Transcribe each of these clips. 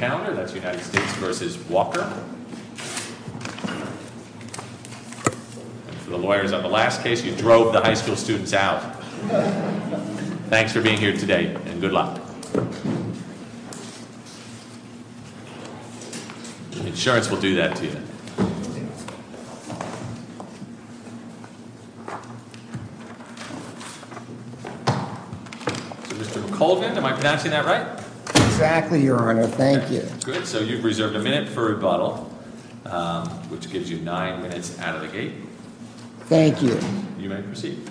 And for the lawyers on the last case, you drove the high school students out. Thanks for being here today and good luck. Insurance will do that to you. Mr. Colvin, am I pronouncing that right? Exactly, your honor. Thank you. Good. So you've reserved a minute for rebuttal, which gives you nine minutes out of the gate. Thank you. You may proceed.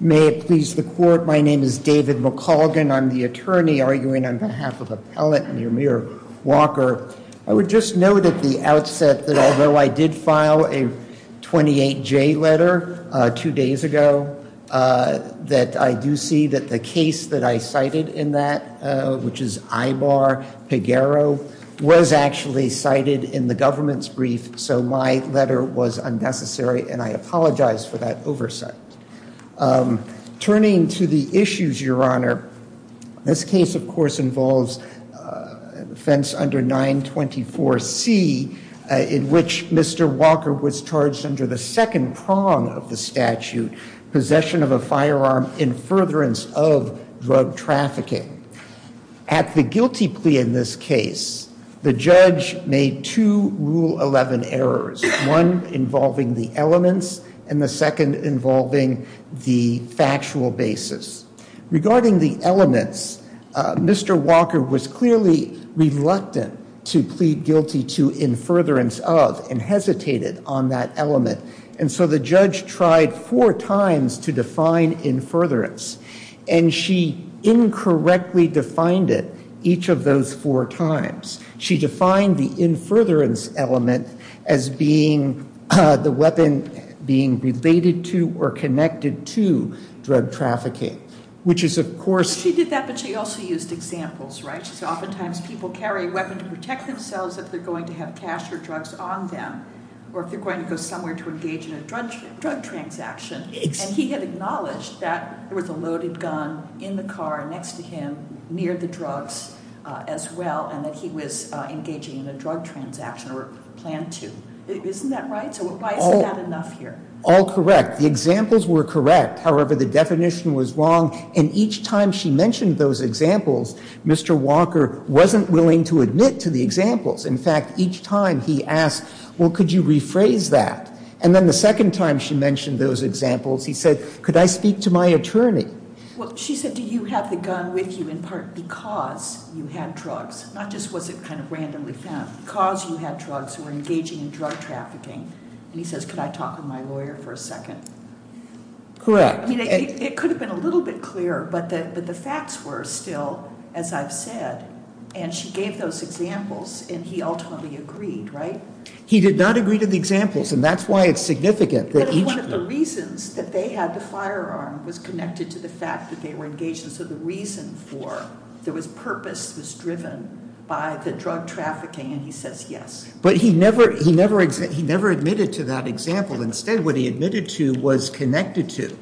May it please the court, my name is David McColgan, I'm the attorney arguing on behalf of appellate near Mayor Walker. I would just note at the outset that although I did file a 28J letter two days ago, that I do see that the case that I cited in that, which is Ibar-Peguero, was actually cited in the government's brief, so my letter was unnecessary and I apologize for that oversight. Turning to the issues, your honor, this case, of course, involves offense under 924C in which Mr. Walker was charged under the second prong of the statute, possession of a firearm in furtherance of drug trafficking. At the guilty plea in this case, the judge made two Rule 11 errors, one involving the elements and the second involving the factual basis. Regarding the elements, Mr. Walker was clearly reluctant to plead guilty to in furtherance of, and hesitated on that element, and so the judge tried four times to define in furtherance, and she incorrectly defined it each of those four times. She defined the in furtherance element as being the weapon being related to or connected to drug trafficking, which is, of course- She did that, but she also used examples, right? She said oftentimes people carry a weapon to protect themselves if they're going to have cash or drugs on them, or if they're going to go somewhere to engage in a drug transaction, and he had acknowledged that with a loaded gun in the car next to him near the drugs as well, and that he was engaging in a drug transaction or planned to. Isn't that right? So why isn't that enough here? All correct. The examples were correct. However, the definition was wrong, and each time she mentioned those examples, Mr. Walker wasn't willing to admit to the examples. In fact, each time he asked, well, could you rephrase that? And then the second time she mentioned those examples, he said, could I speak to my attorney? Well, she said, do you have the gun with you in part because you had drugs, not just was it kind of randomly found, because you had drugs, were engaging in drug trafficking, and he says, could I talk to my lawyer for a second? Correct. I mean, it could have been a little bit clearer, but the facts were still, as I've said, and she gave those examples, and he ultimately agreed, right? He did not agree to the examples, and that's why it's significant that each of them. But it's one of the reasons that they had the firearm was connected to the fact that they were engaged, and so the reason for, there was purpose was driven by the drug trafficking, and he says yes. But he never admitted to that example. Instead, what he admitted to was connected to,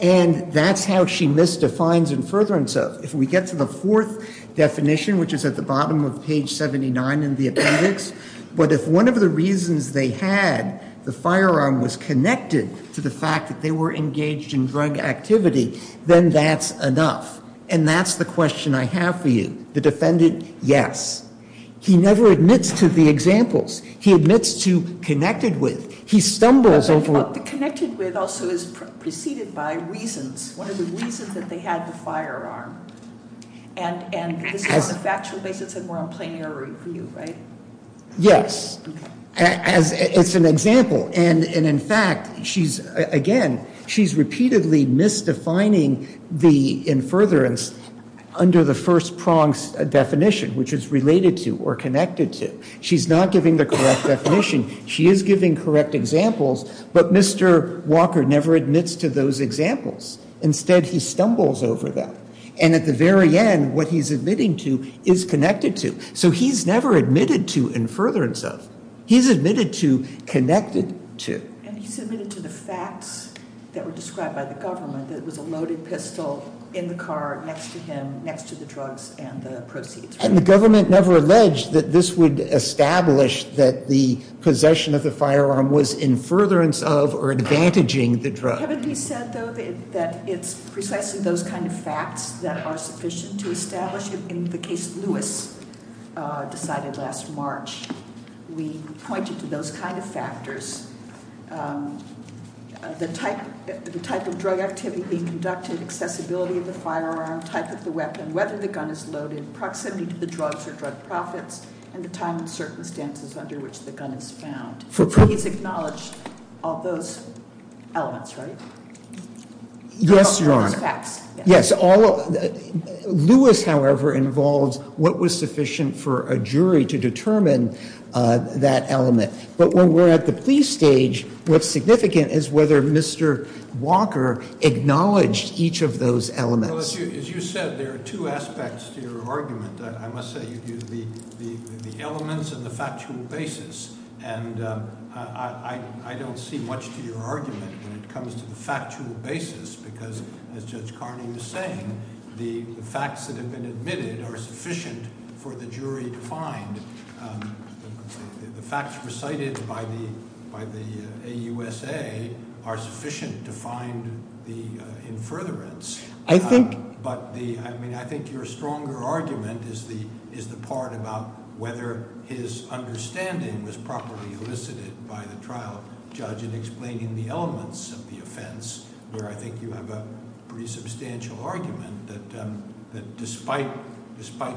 and that's how she misdefines and furtherens it. So if we get to the fourth definition, which is at the bottom of page 79 in the appendix, but if one of the reasons they had the firearm was connected to the fact that they were engaged in drug activity, then that's enough, and that's the question I have for you. The defendant, yes. He never admits to the examples. He admits to connected with. He stumbles over. But the connected with also is preceded by reasons. One of the reasons that they had the firearm, and this is on a factual basis, and we're on plenary for you, right? Yes. It's an example, and in fact, she's, again, she's repeatedly misdefining the in furtherance under the first prong's definition, which is related to or connected to. She's not giving the correct definition. She is giving correct examples, but Mr. Walker never admits to those examples. Instead, he stumbles over them, and at the very end, what he's admitting to is connected to. So he's never admitted to in furtherance of. He's admitted to connected to. And he's admitted to the facts that were described by the government, that it was a loaded pistol in the car next to him, next to the drugs and the proceeds. And the government never alleged that this would establish that the possession of the firearm was in furtherance of or advantaging the drug. Haven't we said, though, that it's precisely those kind of facts that are sufficient to establish it? In the case Lewis decided last March, we pointed to those kind of factors, the type of drug activity being conducted, accessibility of the firearm, type of the weapon, whether the drugs or drug profits, and the time and circumstances under which the gun is found. So he's acknowledged all those elements, right? Yes, Your Honor. Yes. Lewis, however, involves what was sufficient for a jury to determine that element. But when we're at the police stage, what's significant is whether Mr. Walker acknowledged each of those elements. Well, as you said, there are two aspects to your argument. I must say, the elements and the factual basis. And I don't see much to your argument when it comes to the factual basis because, as Judge Carney was saying, the facts that have been admitted are sufficient for the jury to find. The facts recited by the AUSA are sufficient to find the in furtherance. I think- But the, I mean, I think your stronger argument is the part about whether his understanding was properly elicited by the trial judge in explaining the elements of the offense, where I think you have a pretty substantial argument that despite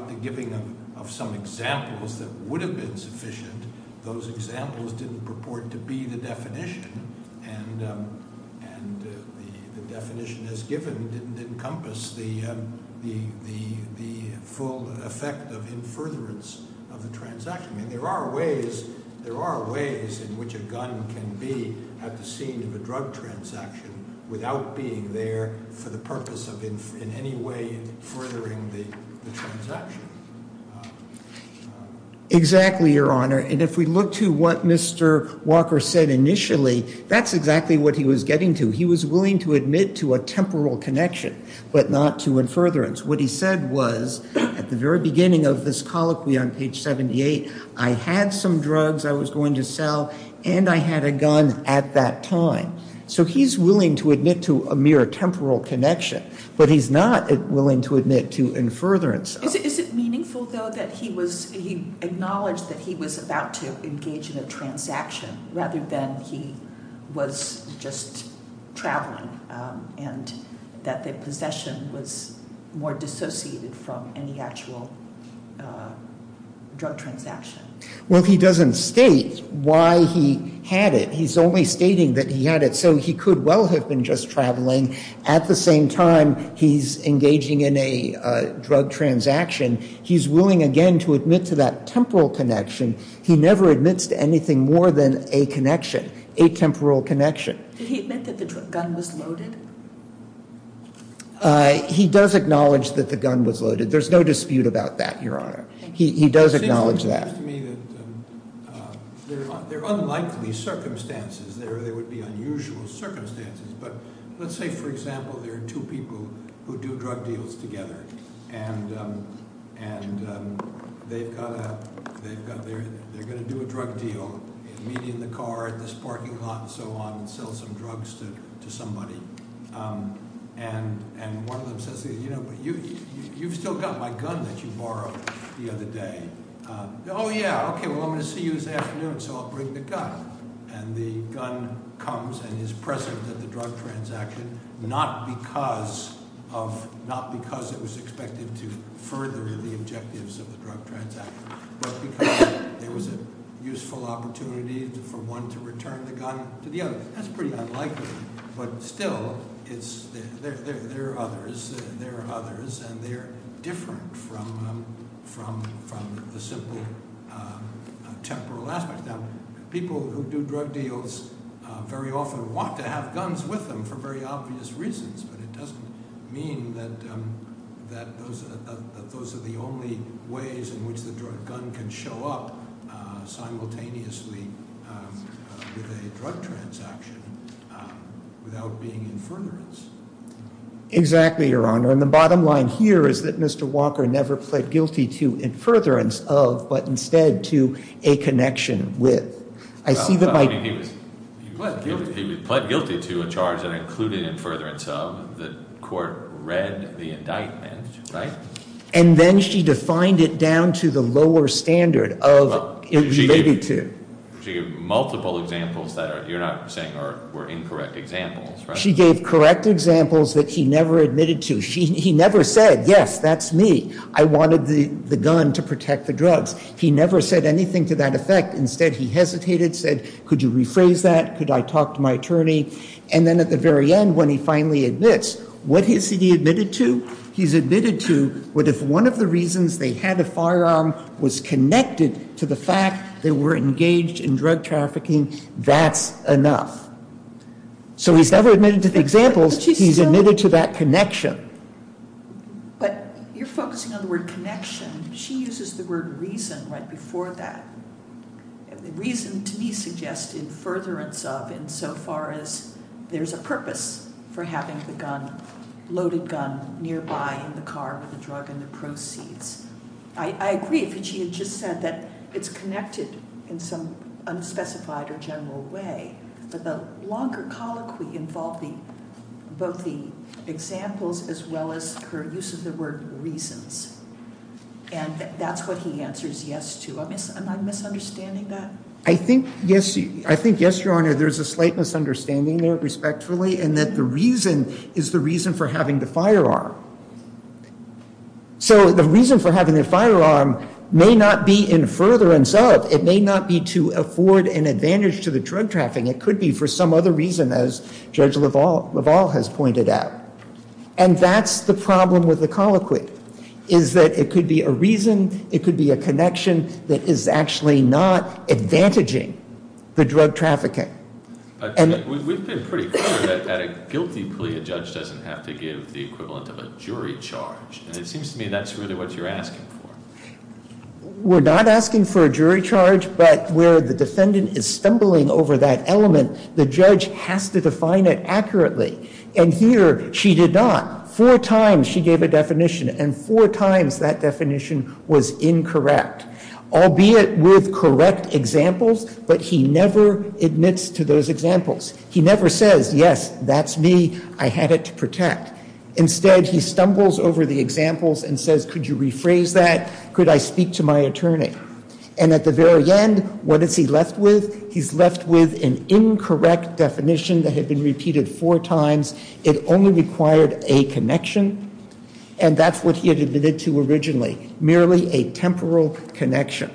the giving of some examples that would have been sufficient, those examples didn't purport to be the definition. And the definition as given didn't encompass the full effect of in furtherance of the transaction. I mean, there are ways in which a gun can be at the scene of a drug transaction without being there for the purpose of in any way furthering the transaction. Exactly, Your Honor. And if we look to what Mr. Walker said initially, that's exactly what he was getting to. He was willing to admit to a temporal connection, but not to in furtherance. What he said was, at the very beginning of this colloquy on page 78, I had some drugs I was going to sell, and I had a gun at that time. So he's willing to admit to a mere temporal connection, but he's not willing to admit to in furtherance. Is it meaningful, though, that he acknowledged that he was about to engage in a transaction rather than he was just traveling, and that the possession was more dissociated from any actual drug transaction? Well, he doesn't state why he had it. He's only stating that he had it so he could well have been just traveling. At the same time, he's engaging in a drug transaction. He's willing, again, to admit to that temporal connection. He never admits to anything more than a connection, a temporal connection. Did he admit that the gun was loaded? He does acknowledge that the gun was loaded. There's no dispute about that, Your Honor. He does acknowledge that. It seems to me that there are unlikely circumstances there. There would be unusual circumstances. But let's say, for example, there are two people who do drug deals together, and they're going to do a drug deal, meet in the car, at this parking lot, and so on, and sell some drugs to somebody. And one of them says, you know, but you've still got my gun that you borrowed the other day. Oh, yeah. Okay, well, I'm going to see you this afternoon, so I'll bring the gun. And the gun comes and is present at the drug transaction, not because it was expected to further the objectives of the drug transaction, but because there was a useful opportunity for one to return the gun to the other. That's pretty unlikely. But still, there are others, and they're different from the simple temporal aspects. Now, people who do drug deals very often want to have guns with them for very obvious reasons, but it doesn't mean that those are the only ways in which the gun can show up simultaneously with a drug transaction without being in furtherance. Exactly, Your Honor. And the bottom line here is that Mr. Walker never pled guilty to in furtherance of, but instead to a connection with. He was pled guilty to a charge that included in furtherance of. The court read the indictment, right? And then she defined it down to the lower standard of it related to. She gave multiple examples that you're not saying were incorrect examples, right? She gave correct examples that he never admitted to. He never said, yes, that's me. I wanted the gun to protect the drugs. He never said anything to that effect. Instead, he hesitated, said, could you rephrase that? Could I talk to my attorney? And then at the very end, when he finally admits, what has he admitted to? He's admitted to what if one of the reasons they had a firearm was connected to the fact they were engaged in drug trafficking, that's enough. So he's never admitted to the examples. He's admitted to that connection. But you're focusing on the word connection. She uses the word reason right before that. The reason, to me, suggests in furtherance of in so far as there's a purpose for having the gun, loaded gun, nearby in the car with the drug and the proceeds. I agree that she had just said that it's connected in some unspecified or general way. But the longer colloquy involved both the examples as well as her use of the word reasons. And that's what he answers yes to. Am I misunderstanding that? I think yes, Your Honor. There's a slight misunderstanding there, respectfully, and that the reason is the reason for having the firearm. So the reason for having the firearm may not be in furtherance of. It may not be to afford an advantage to the drug trafficking. It could be for some other reason, as Judge LaValle has pointed out. And that's the problem with the colloquy, is that it could be a reason. It could be a connection that is actually not advantaging the drug trafficking. We've been pretty clear that at a guilty plea, a judge doesn't have to give the equivalent of a jury charge. And it seems to me that's really what you're asking for. We're not asking for a jury charge, but where the defendant is stumbling over that element, the judge has to define it accurately. And here, she did not. Four times she gave a definition, and four times that definition was incorrect. Albeit with correct examples, but he never admits to those examples. He never says, yes, that's me. I had it to protect. Instead, he stumbles over the examples and says, could you rephrase that? Could I speak to my attorney? And at the very end, what is he left with? He's left with an incorrect definition that had been repeated four times. It only required a connection. And that's what he had admitted to originally. Merely a temporal connection.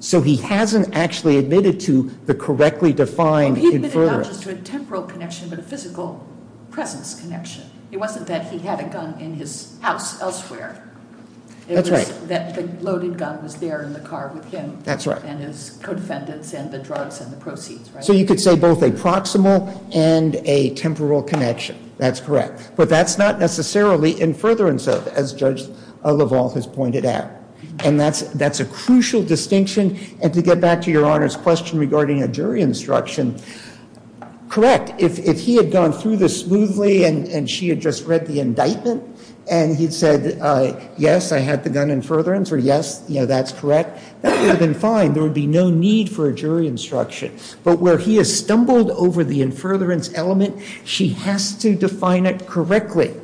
So he hasn't actually admitted to the correctly defined in furtherance. He admitted not just to a temporal connection, but a physical presence connection. It wasn't that he had a gun in his house elsewhere. That's right. It was that the loaded gun was there in the car with him. That's right. And his co-defendants and the drugs and the proceeds, right? So you could say both a proximal and a temporal connection. That's correct. But that's not necessarily in furtherance of, as Judge LaValle has pointed out. And that's a crucial distinction. And to get back to your Honor's question regarding a jury instruction, correct. If he had gone through this smoothly and she had just read the indictment and he'd said, yes, I had the gun in furtherance, or yes, that's correct, that would have been fine. There would be no need for a jury instruction. But where he has stumbled over the in furtherance element, she has to define it correctly.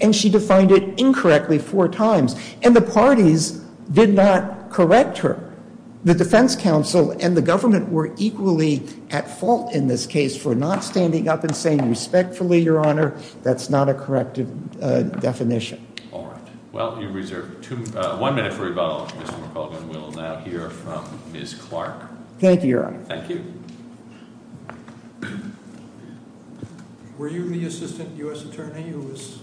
And she defined it incorrectly four times. And the parties did not correct her. The defense counsel and the government were equally at fault in this case for not standing up and saying respectfully, Your Honor, that's not a corrective definition. All right. Well, you reserve one minute for rebuttal. Ms. McCullough will now hear from Ms. Clark. Thank you, Your Honor. Thank you. Were you the Assistant U.S. Attorney who was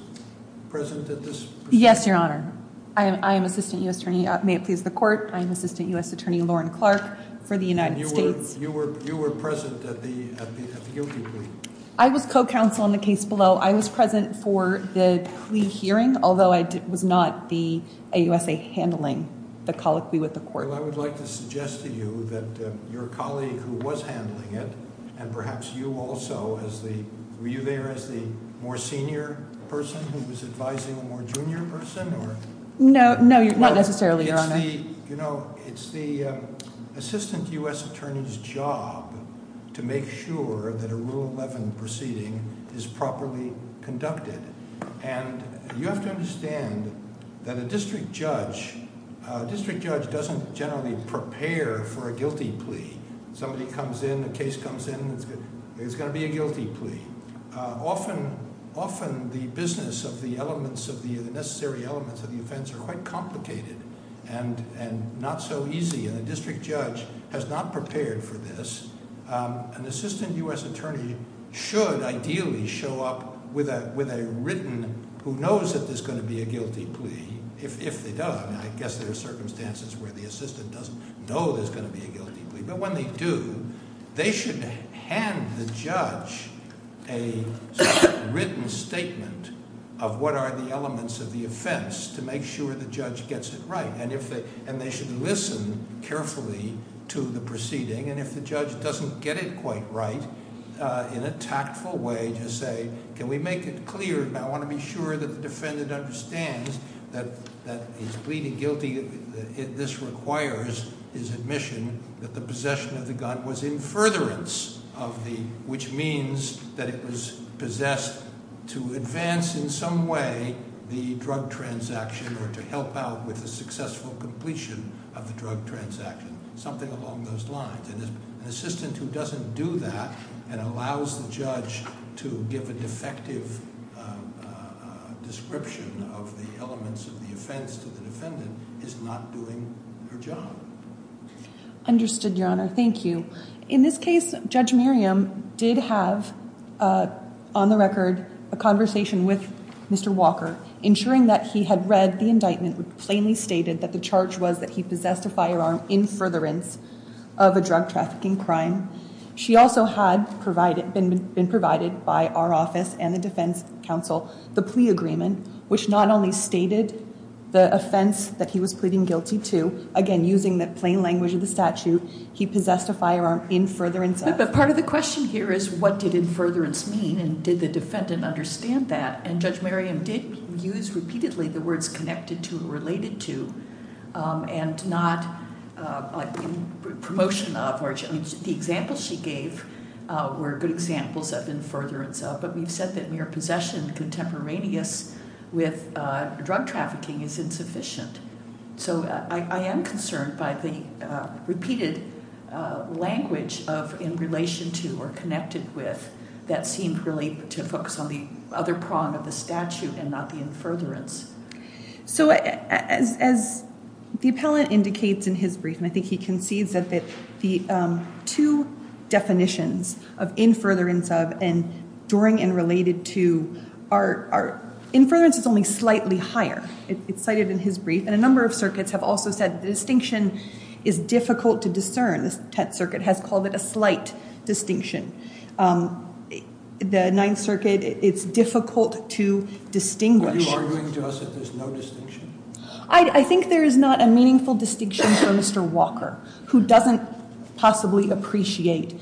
present at this proceeding? Yes, Your Honor. I am Assistant U.S. Attorney. May it please the Court. I am Assistant U.S. Attorney Lauren Clark for the United States. And you were present at the guilty plea? I was co-counsel in the case below. I was present for the plea hearing, although I was not the AUSA handling the colloquy with the Court. Well, I would like to suggest to you that your colleague who was handling it, and perhaps you also, were you there as the more senior person No, not necessarily, Your Honor. It's the Assistant U.S. Attorney's job to make sure that a Rule 11 proceeding is properly conducted. And you have to understand that a district judge, a district judge doesn't generally prepare for a guilty plea. Somebody comes in, a case comes in, it's going to be a guilty plea. Often, the business of the necessary elements of the offense are quite complicated and not so easy. And a district judge has not prepared for this. An Assistant U.S. Attorney should ideally show up with a written, who knows that there's going to be a guilty plea, if they don't, I guess there are circumstances where the assistant doesn't know there's going to be a guilty plea, but when they do, they should hand the judge a written statement of what are the elements of the offense to make sure the judge gets it right. And they should listen carefully to the proceeding. And if the judge doesn't get it quite right, in a tactful way, just say, can we make it clear, I want to be sure that the defendant understands that he's pleading guilty, this requires his admission that the possession of the gun was in furtherance, which means that it was possessed to advance in some way the drug transaction or to help out with the successful completion of the drug transaction, something along those lines. And an assistant who doesn't do that and allows the judge to give a defective description of the elements of the offense to the defendant is not doing her job. Understood, Your Honor. Thank you. In this case, Judge Miriam did have, on the record, a conversation with Mr. Walker, ensuring that he had read the indictment that plainly stated that the charge was that he possessed a firearm in furtherance of a drug trafficking crime. She also had been provided by our office and the defense counsel the plea agreement, which not only stated the offense that he was pleading guilty to, again, using the plain language of the statute, he possessed a firearm in furtherance. But part of the question here is what did in furtherance mean and did the defendant understand that? And Judge Miriam did use repeatedly the words connected to and related to and not in promotion of. The examples she gave were good examples of in furtherance of, but we've said that mere possession contemporaneous with drug trafficking is insufficient. So I am concerned by the repeated language of in relation to or connected with that seemed really to focus on the other prong of the statute and not the in furtherance. So as the appellant indicates in his brief, and I think he concedes that the two definitions of in furtherance of and during and related to are in furtherance is only slightly higher. It's cited in his brief. And a number of circuits have also said the distinction is difficult to discern. The Tett Circuit has called it a slight distinction. The Ninth Circuit, it's difficult to distinguish. Are you arguing to us that there's no distinction? I think there is not a meaningful distinction for Mr. Walker, who doesn't possibly appreciate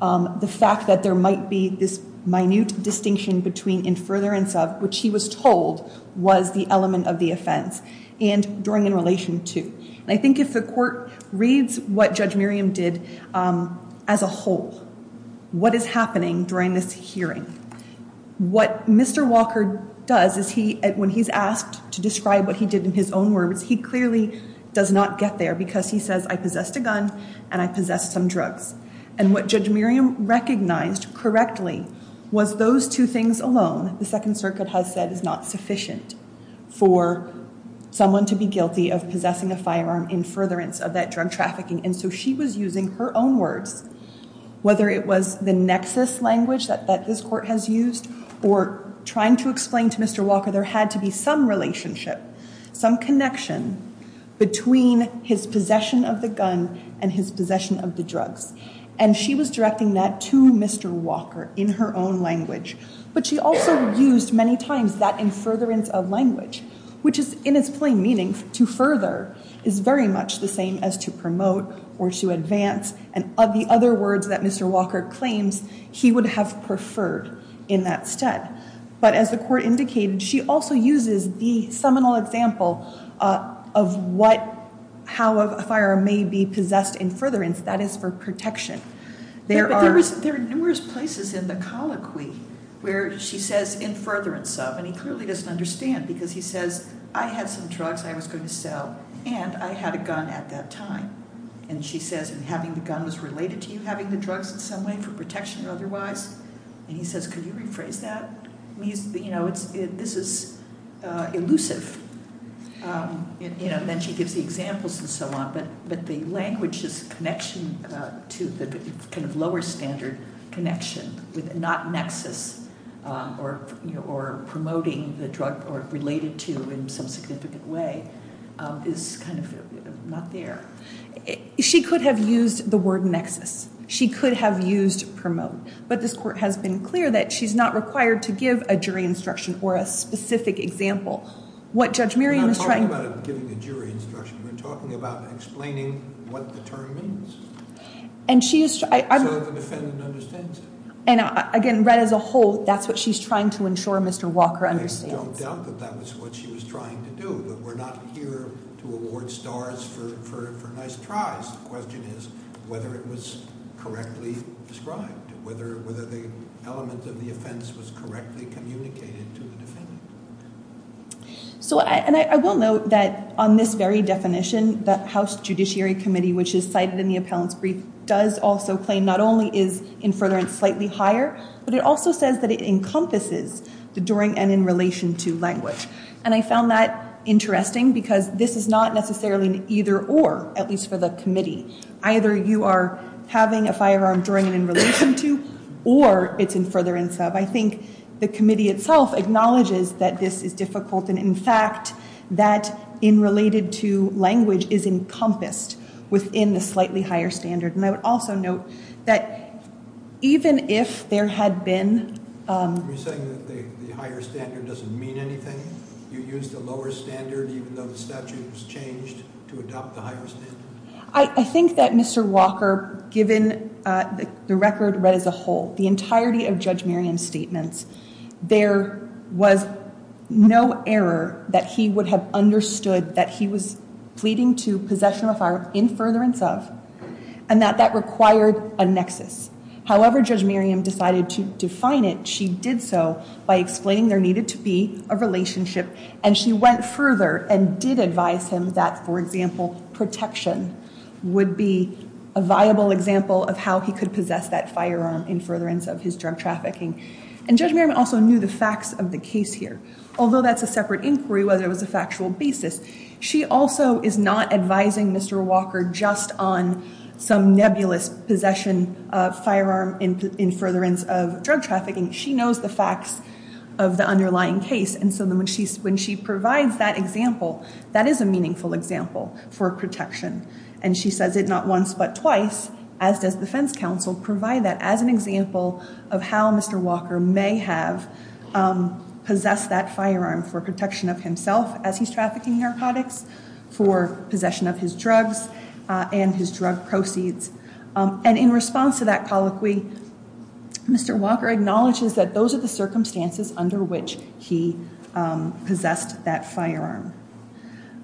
the fact that there might be this minute distinction between in furtherance of, which he was told was the element of the offense, and during and relation to. I think if the court reads what Judge Miriam did as a whole, what is happening during this hearing, what Mr. Walker does is he, when he's asked to describe what he did in his own words, he clearly does not get there, because he says, I possessed a gun and I possessed some drugs. And what Judge Miriam recognized correctly was those two things alone, the Second Circuit has said is not sufficient for someone to be guilty of possessing a firearm in furtherance of that drug trafficking. And so she was using her own words, whether it was the nexus language that this court has used, or trying to explain to Mr. Walker there had to be some relationship, some connection between his possession of the gun and his possession of the drugs. And she was directing that to Mr. Walker in her own language. But she also used many times that in furtherance of language, which is in its plain meaning, to further is very much the same as to promote or to advance. And of the other words that Mr. Walker claims, he would have preferred in that stead. But as the court indicated, she also uses the seminal example of how a firearm may be possessed in furtherance, that is for protection. There are numerous places in the colloquy where she says in furtherance of, and he clearly doesn't understand, because he says, I had some drugs I was going to sell and I had a gun at that time. And she says, and having the gun was related to you having the drugs in some way for protection or otherwise? And he says, can you rephrase that? You know, this is elusive. And then she gives the examples and so on. But the language's connection to the kind of lower standard connection, not nexus or promoting the drug or related to in some significant way, is kind of not there. She could have used the word nexus. She could have used promote. But this court has been clear that she's not required to give a jury instruction or a specific example. What Judge Miriam is trying to... We're not talking about giving a jury instruction. We're talking about explaining what the term means. And she is... So the defendant understands it. And again, read as a whole, that's what she's trying to ensure Mr. Walker understands. I don't doubt that that was what she was trying to do. But we're not here to award stars for nice tries. The question is whether it was correctly described, whether the element of the offense was correctly communicated to the defendant. So, and I will note that on this very definition, the House Judiciary Committee, which is cited in the appellant's brief, does also claim not only is in furtherance slightly higher, but it also says that it encompasses the during and in relation to language. And I found that interesting because this is not necessarily either or, at least for the committee. Either you are having a firearm during and in relation to or it's in furtherance of. I think the committee itself acknowledges that this is difficult. And in fact, that in related to language is encompassed within the slightly higher standard. And I would also note that even if there had been... Are you saying that the higher standard doesn't mean anything? You used the lower standard even though the statute was changed to adopt the higher standard? I think that Mr. Walker, given the record read as a whole, the entirety of Judge Miriam's statements, there was no error that he would have understood that he was pleading to possession of a firearm in furtherance of, and that that required a nexus. However, Judge Miriam decided to define it, she did so by explaining there needed to be a relationship and she went further and did advise him that, for example, protection would be a viable example of how he could possess that firearm in furtherance of his drug trafficking. And Judge Miriam also knew the facts of the case here, although that's a separate inquiry whether it was a factual basis. She also is not advising Mr. Walker just on some nebulous possession of firearm in furtherance of drug trafficking. She knows the facts of the underlying case and so when she provides that example, that is a meaningful example for protection. And she says it not once but twice, as does the defense counsel, provide that as an example of how Mr. Walker may have possessed that firearm for protection of himself as he's trafficking narcotics, for possession of his drugs and his drug proceeds. And in response to that colloquy, Mr. Walker acknowledges that those are the circumstances under which he possessed that firearm.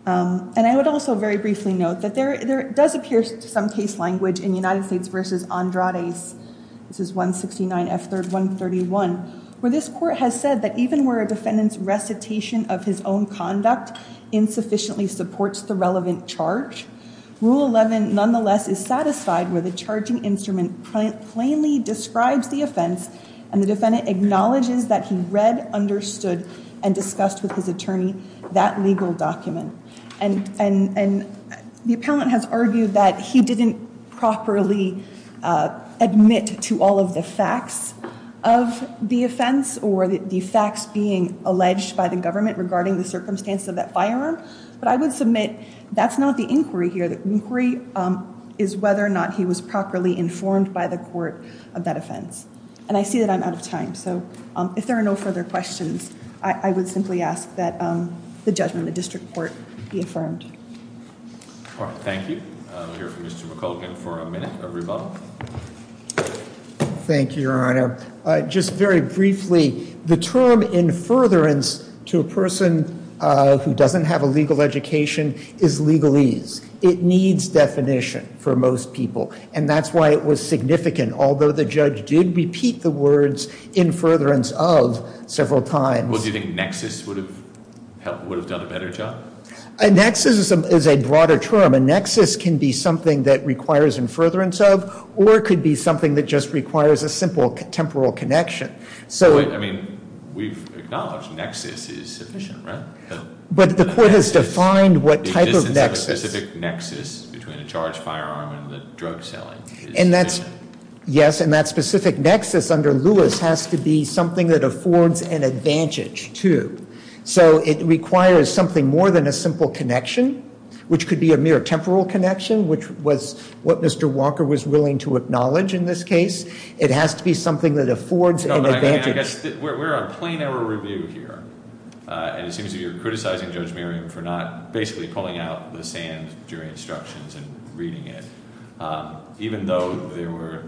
And I would also very briefly note that there does appear some case language in United States v. Andrades, this is 169 F. 131, where this court has said that even where a defendant's recitation of his own conduct insufficiently supports the relevant charge, Rule 11 nonetheless is satisfied where the charging instrument plainly describes the offense and the defendant acknowledges that he read, understood and discussed with his attorney that legal document. And the appellant has argued that he didn't properly admit to all of the facts of the offense or the facts being alleged by the government regarding the circumstance of that firearm, but I would submit that's not the inquiry here. The inquiry is whether or not he was properly informed by the court of that offense. And I see that I'm out of time, so if there are no further questions, I would simply ask that the judgment of the district court be affirmed. Thank you. We'll hear from Mr. McColgan for a minute of rebuttal. Thank you, Your Honor. Just very briefly, the term in furtherance to a person who doesn't have a legal education is legalese. It needs definition for most people, and that's why it was significant, although the judge did repeat the words in furtherance of several times. Well, do you think nexus would have done a better job? A nexus is a broader term. A nexus can be something that requires in furtherance of, or it could be something that just requires a simple temporal connection. I mean, we've acknowledged nexus is insufficient, right? But the court has defined what type of nexus. The existence of a specific nexus between a charged firearm and the drug selling. Yes, and that specific nexus under Lewis has to be something that affords an advantage to. So it requires something more than a simple connection, which could be a mere temporal connection, which was what Mr. Walker was willing to acknowledge in this case. It has to be something that affords an advantage. We're on plain error review here, and it seems you're criticizing Judge Miriam for not basically pulling out the sand during instructions and reading it, even though there were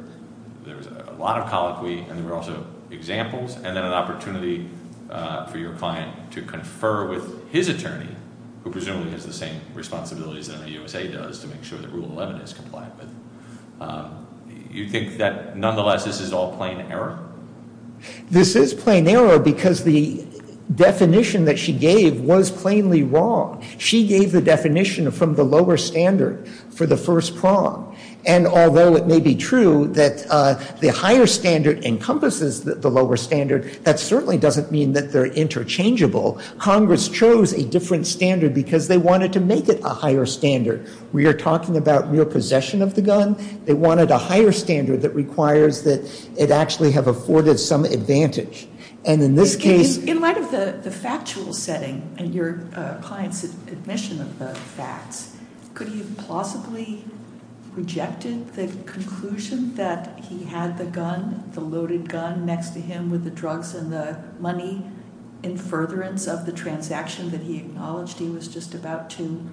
a lot of colloquy and there were also examples, and then an opportunity for your client to confer with his attorney, who presumably has the same responsibilities that a U.S.A. does to make sure that Rule 11 is compliant with. You think that nonetheless this is all plain error? This is plain error because the definition that she gave was plainly wrong. She gave the definition from the lower standard for the first prong, and although it may be true that the higher standard encompasses the lower standard, that certainly doesn't mean that they're interchangeable. Congress chose a different standard because they wanted to make it a higher standard. We are talking about real possession of the gun. They wanted a higher standard that requires that it actually have afforded some advantage. In light of the factual setting and your client's admission of the facts, could he have plausibly rejected the conclusion that he had the gun, the loaded gun, next to him with the drugs and the money in furtherance of the transaction that he acknowledged he was just about to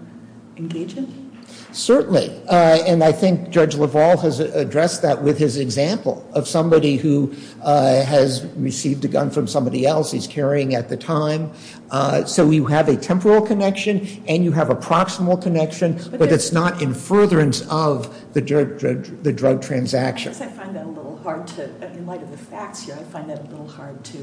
engage in? Certainly, and I think Judge LaValle has addressed that with his example of somebody who has received a gun from somebody else he's carrying at the time. So you have a temporal connection and you have a proximal connection, but it's not in furtherance of the drug transaction. In light of the facts here, I find that a little hard to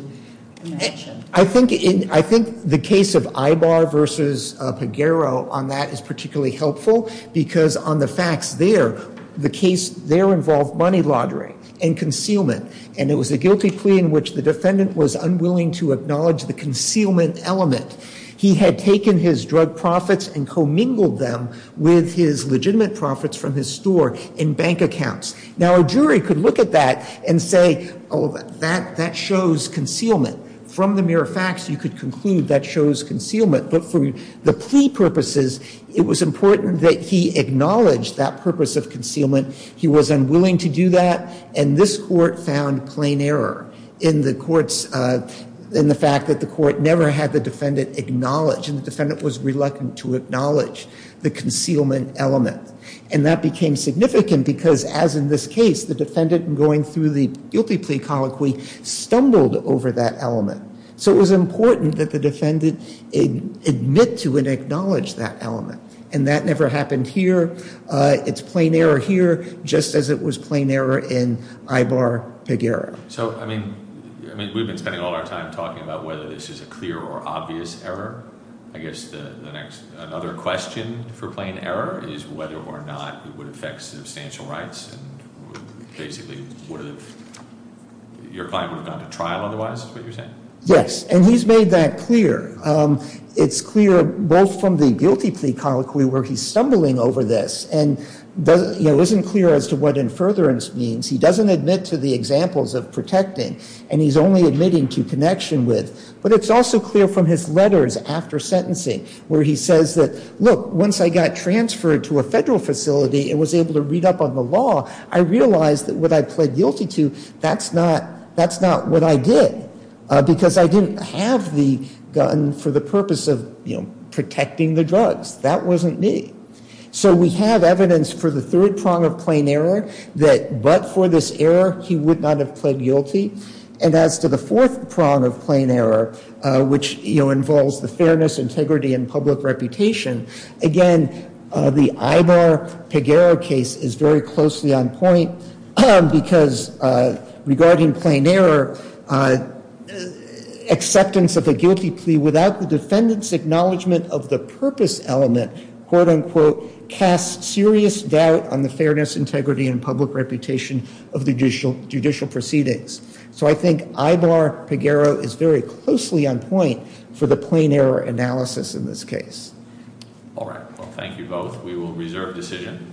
imagine. I think the case of Ibar versus Peguero on that is particularly helpful because on the facts there, the case there involved money laundering and concealment and it was a guilty plea in which the defendant was unwilling to acknowledge the concealment element. He had taken his drug profits and commingled them with his legitimate profits from his store and bank accounts. Now a jury could look at that and say, that shows concealment. From the mere facts, you could conclude that shows concealment, but for the plea purposes, it was important that he acknowledge that purpose of concealment. He was unwilling to do that and this court found plain error in the courts, in the fact that the court never had the defendant acknowledge and the defendant was reluctant to acknowledge the concealment element. And that became significant because as in this case, the defendant going through the guilty plea colloquy stumbled over that element. So it was important that the defendant admit to and acknowledge that element. And that never happened here. It's plain error here, just as it was plain error in Ibar-Peguero. So, I mean, we've been spending all our time talking about whether this is a clear or obvious error. I guess the next, another question for plain error is whether or not it would affect substantial rights and basically would have, your client would have gone to trial otherwise, is what you're saying? Yes, and he's made that clear. It's clear both from the guilty plea colloquy where he's stumbling over this and isn't clear as to what in furtherance means. He doesn't admit to the examples of protecting and he's only admitting to connection with. But it's also clear from his letters after sentencing where he says that, look, once I got transferred to a federal facility and was able to read up on the law, I realized that what I pled guilty to, that's not what I did because I didn't have the gun for the purpose of protecting the drugs. That wasn't me. So we have evidence for the third prong of plain error that but for this error, he would not have pled guilty. And as to the fourth prong of plain error, which involves the fairness, integrity and public reputation, again the Ibar-Peguero case is very closely on point because regarding plain error, acceptance of a guilty plea without the defendant's acknowledgement of the purpose element cast serious doubt on the fairness, integrity and public reputation of the judicial proceedings. So I think Ibar-Peguero is very closely on point for the plain error analysis in this case. Thank you both. We will reserve decision.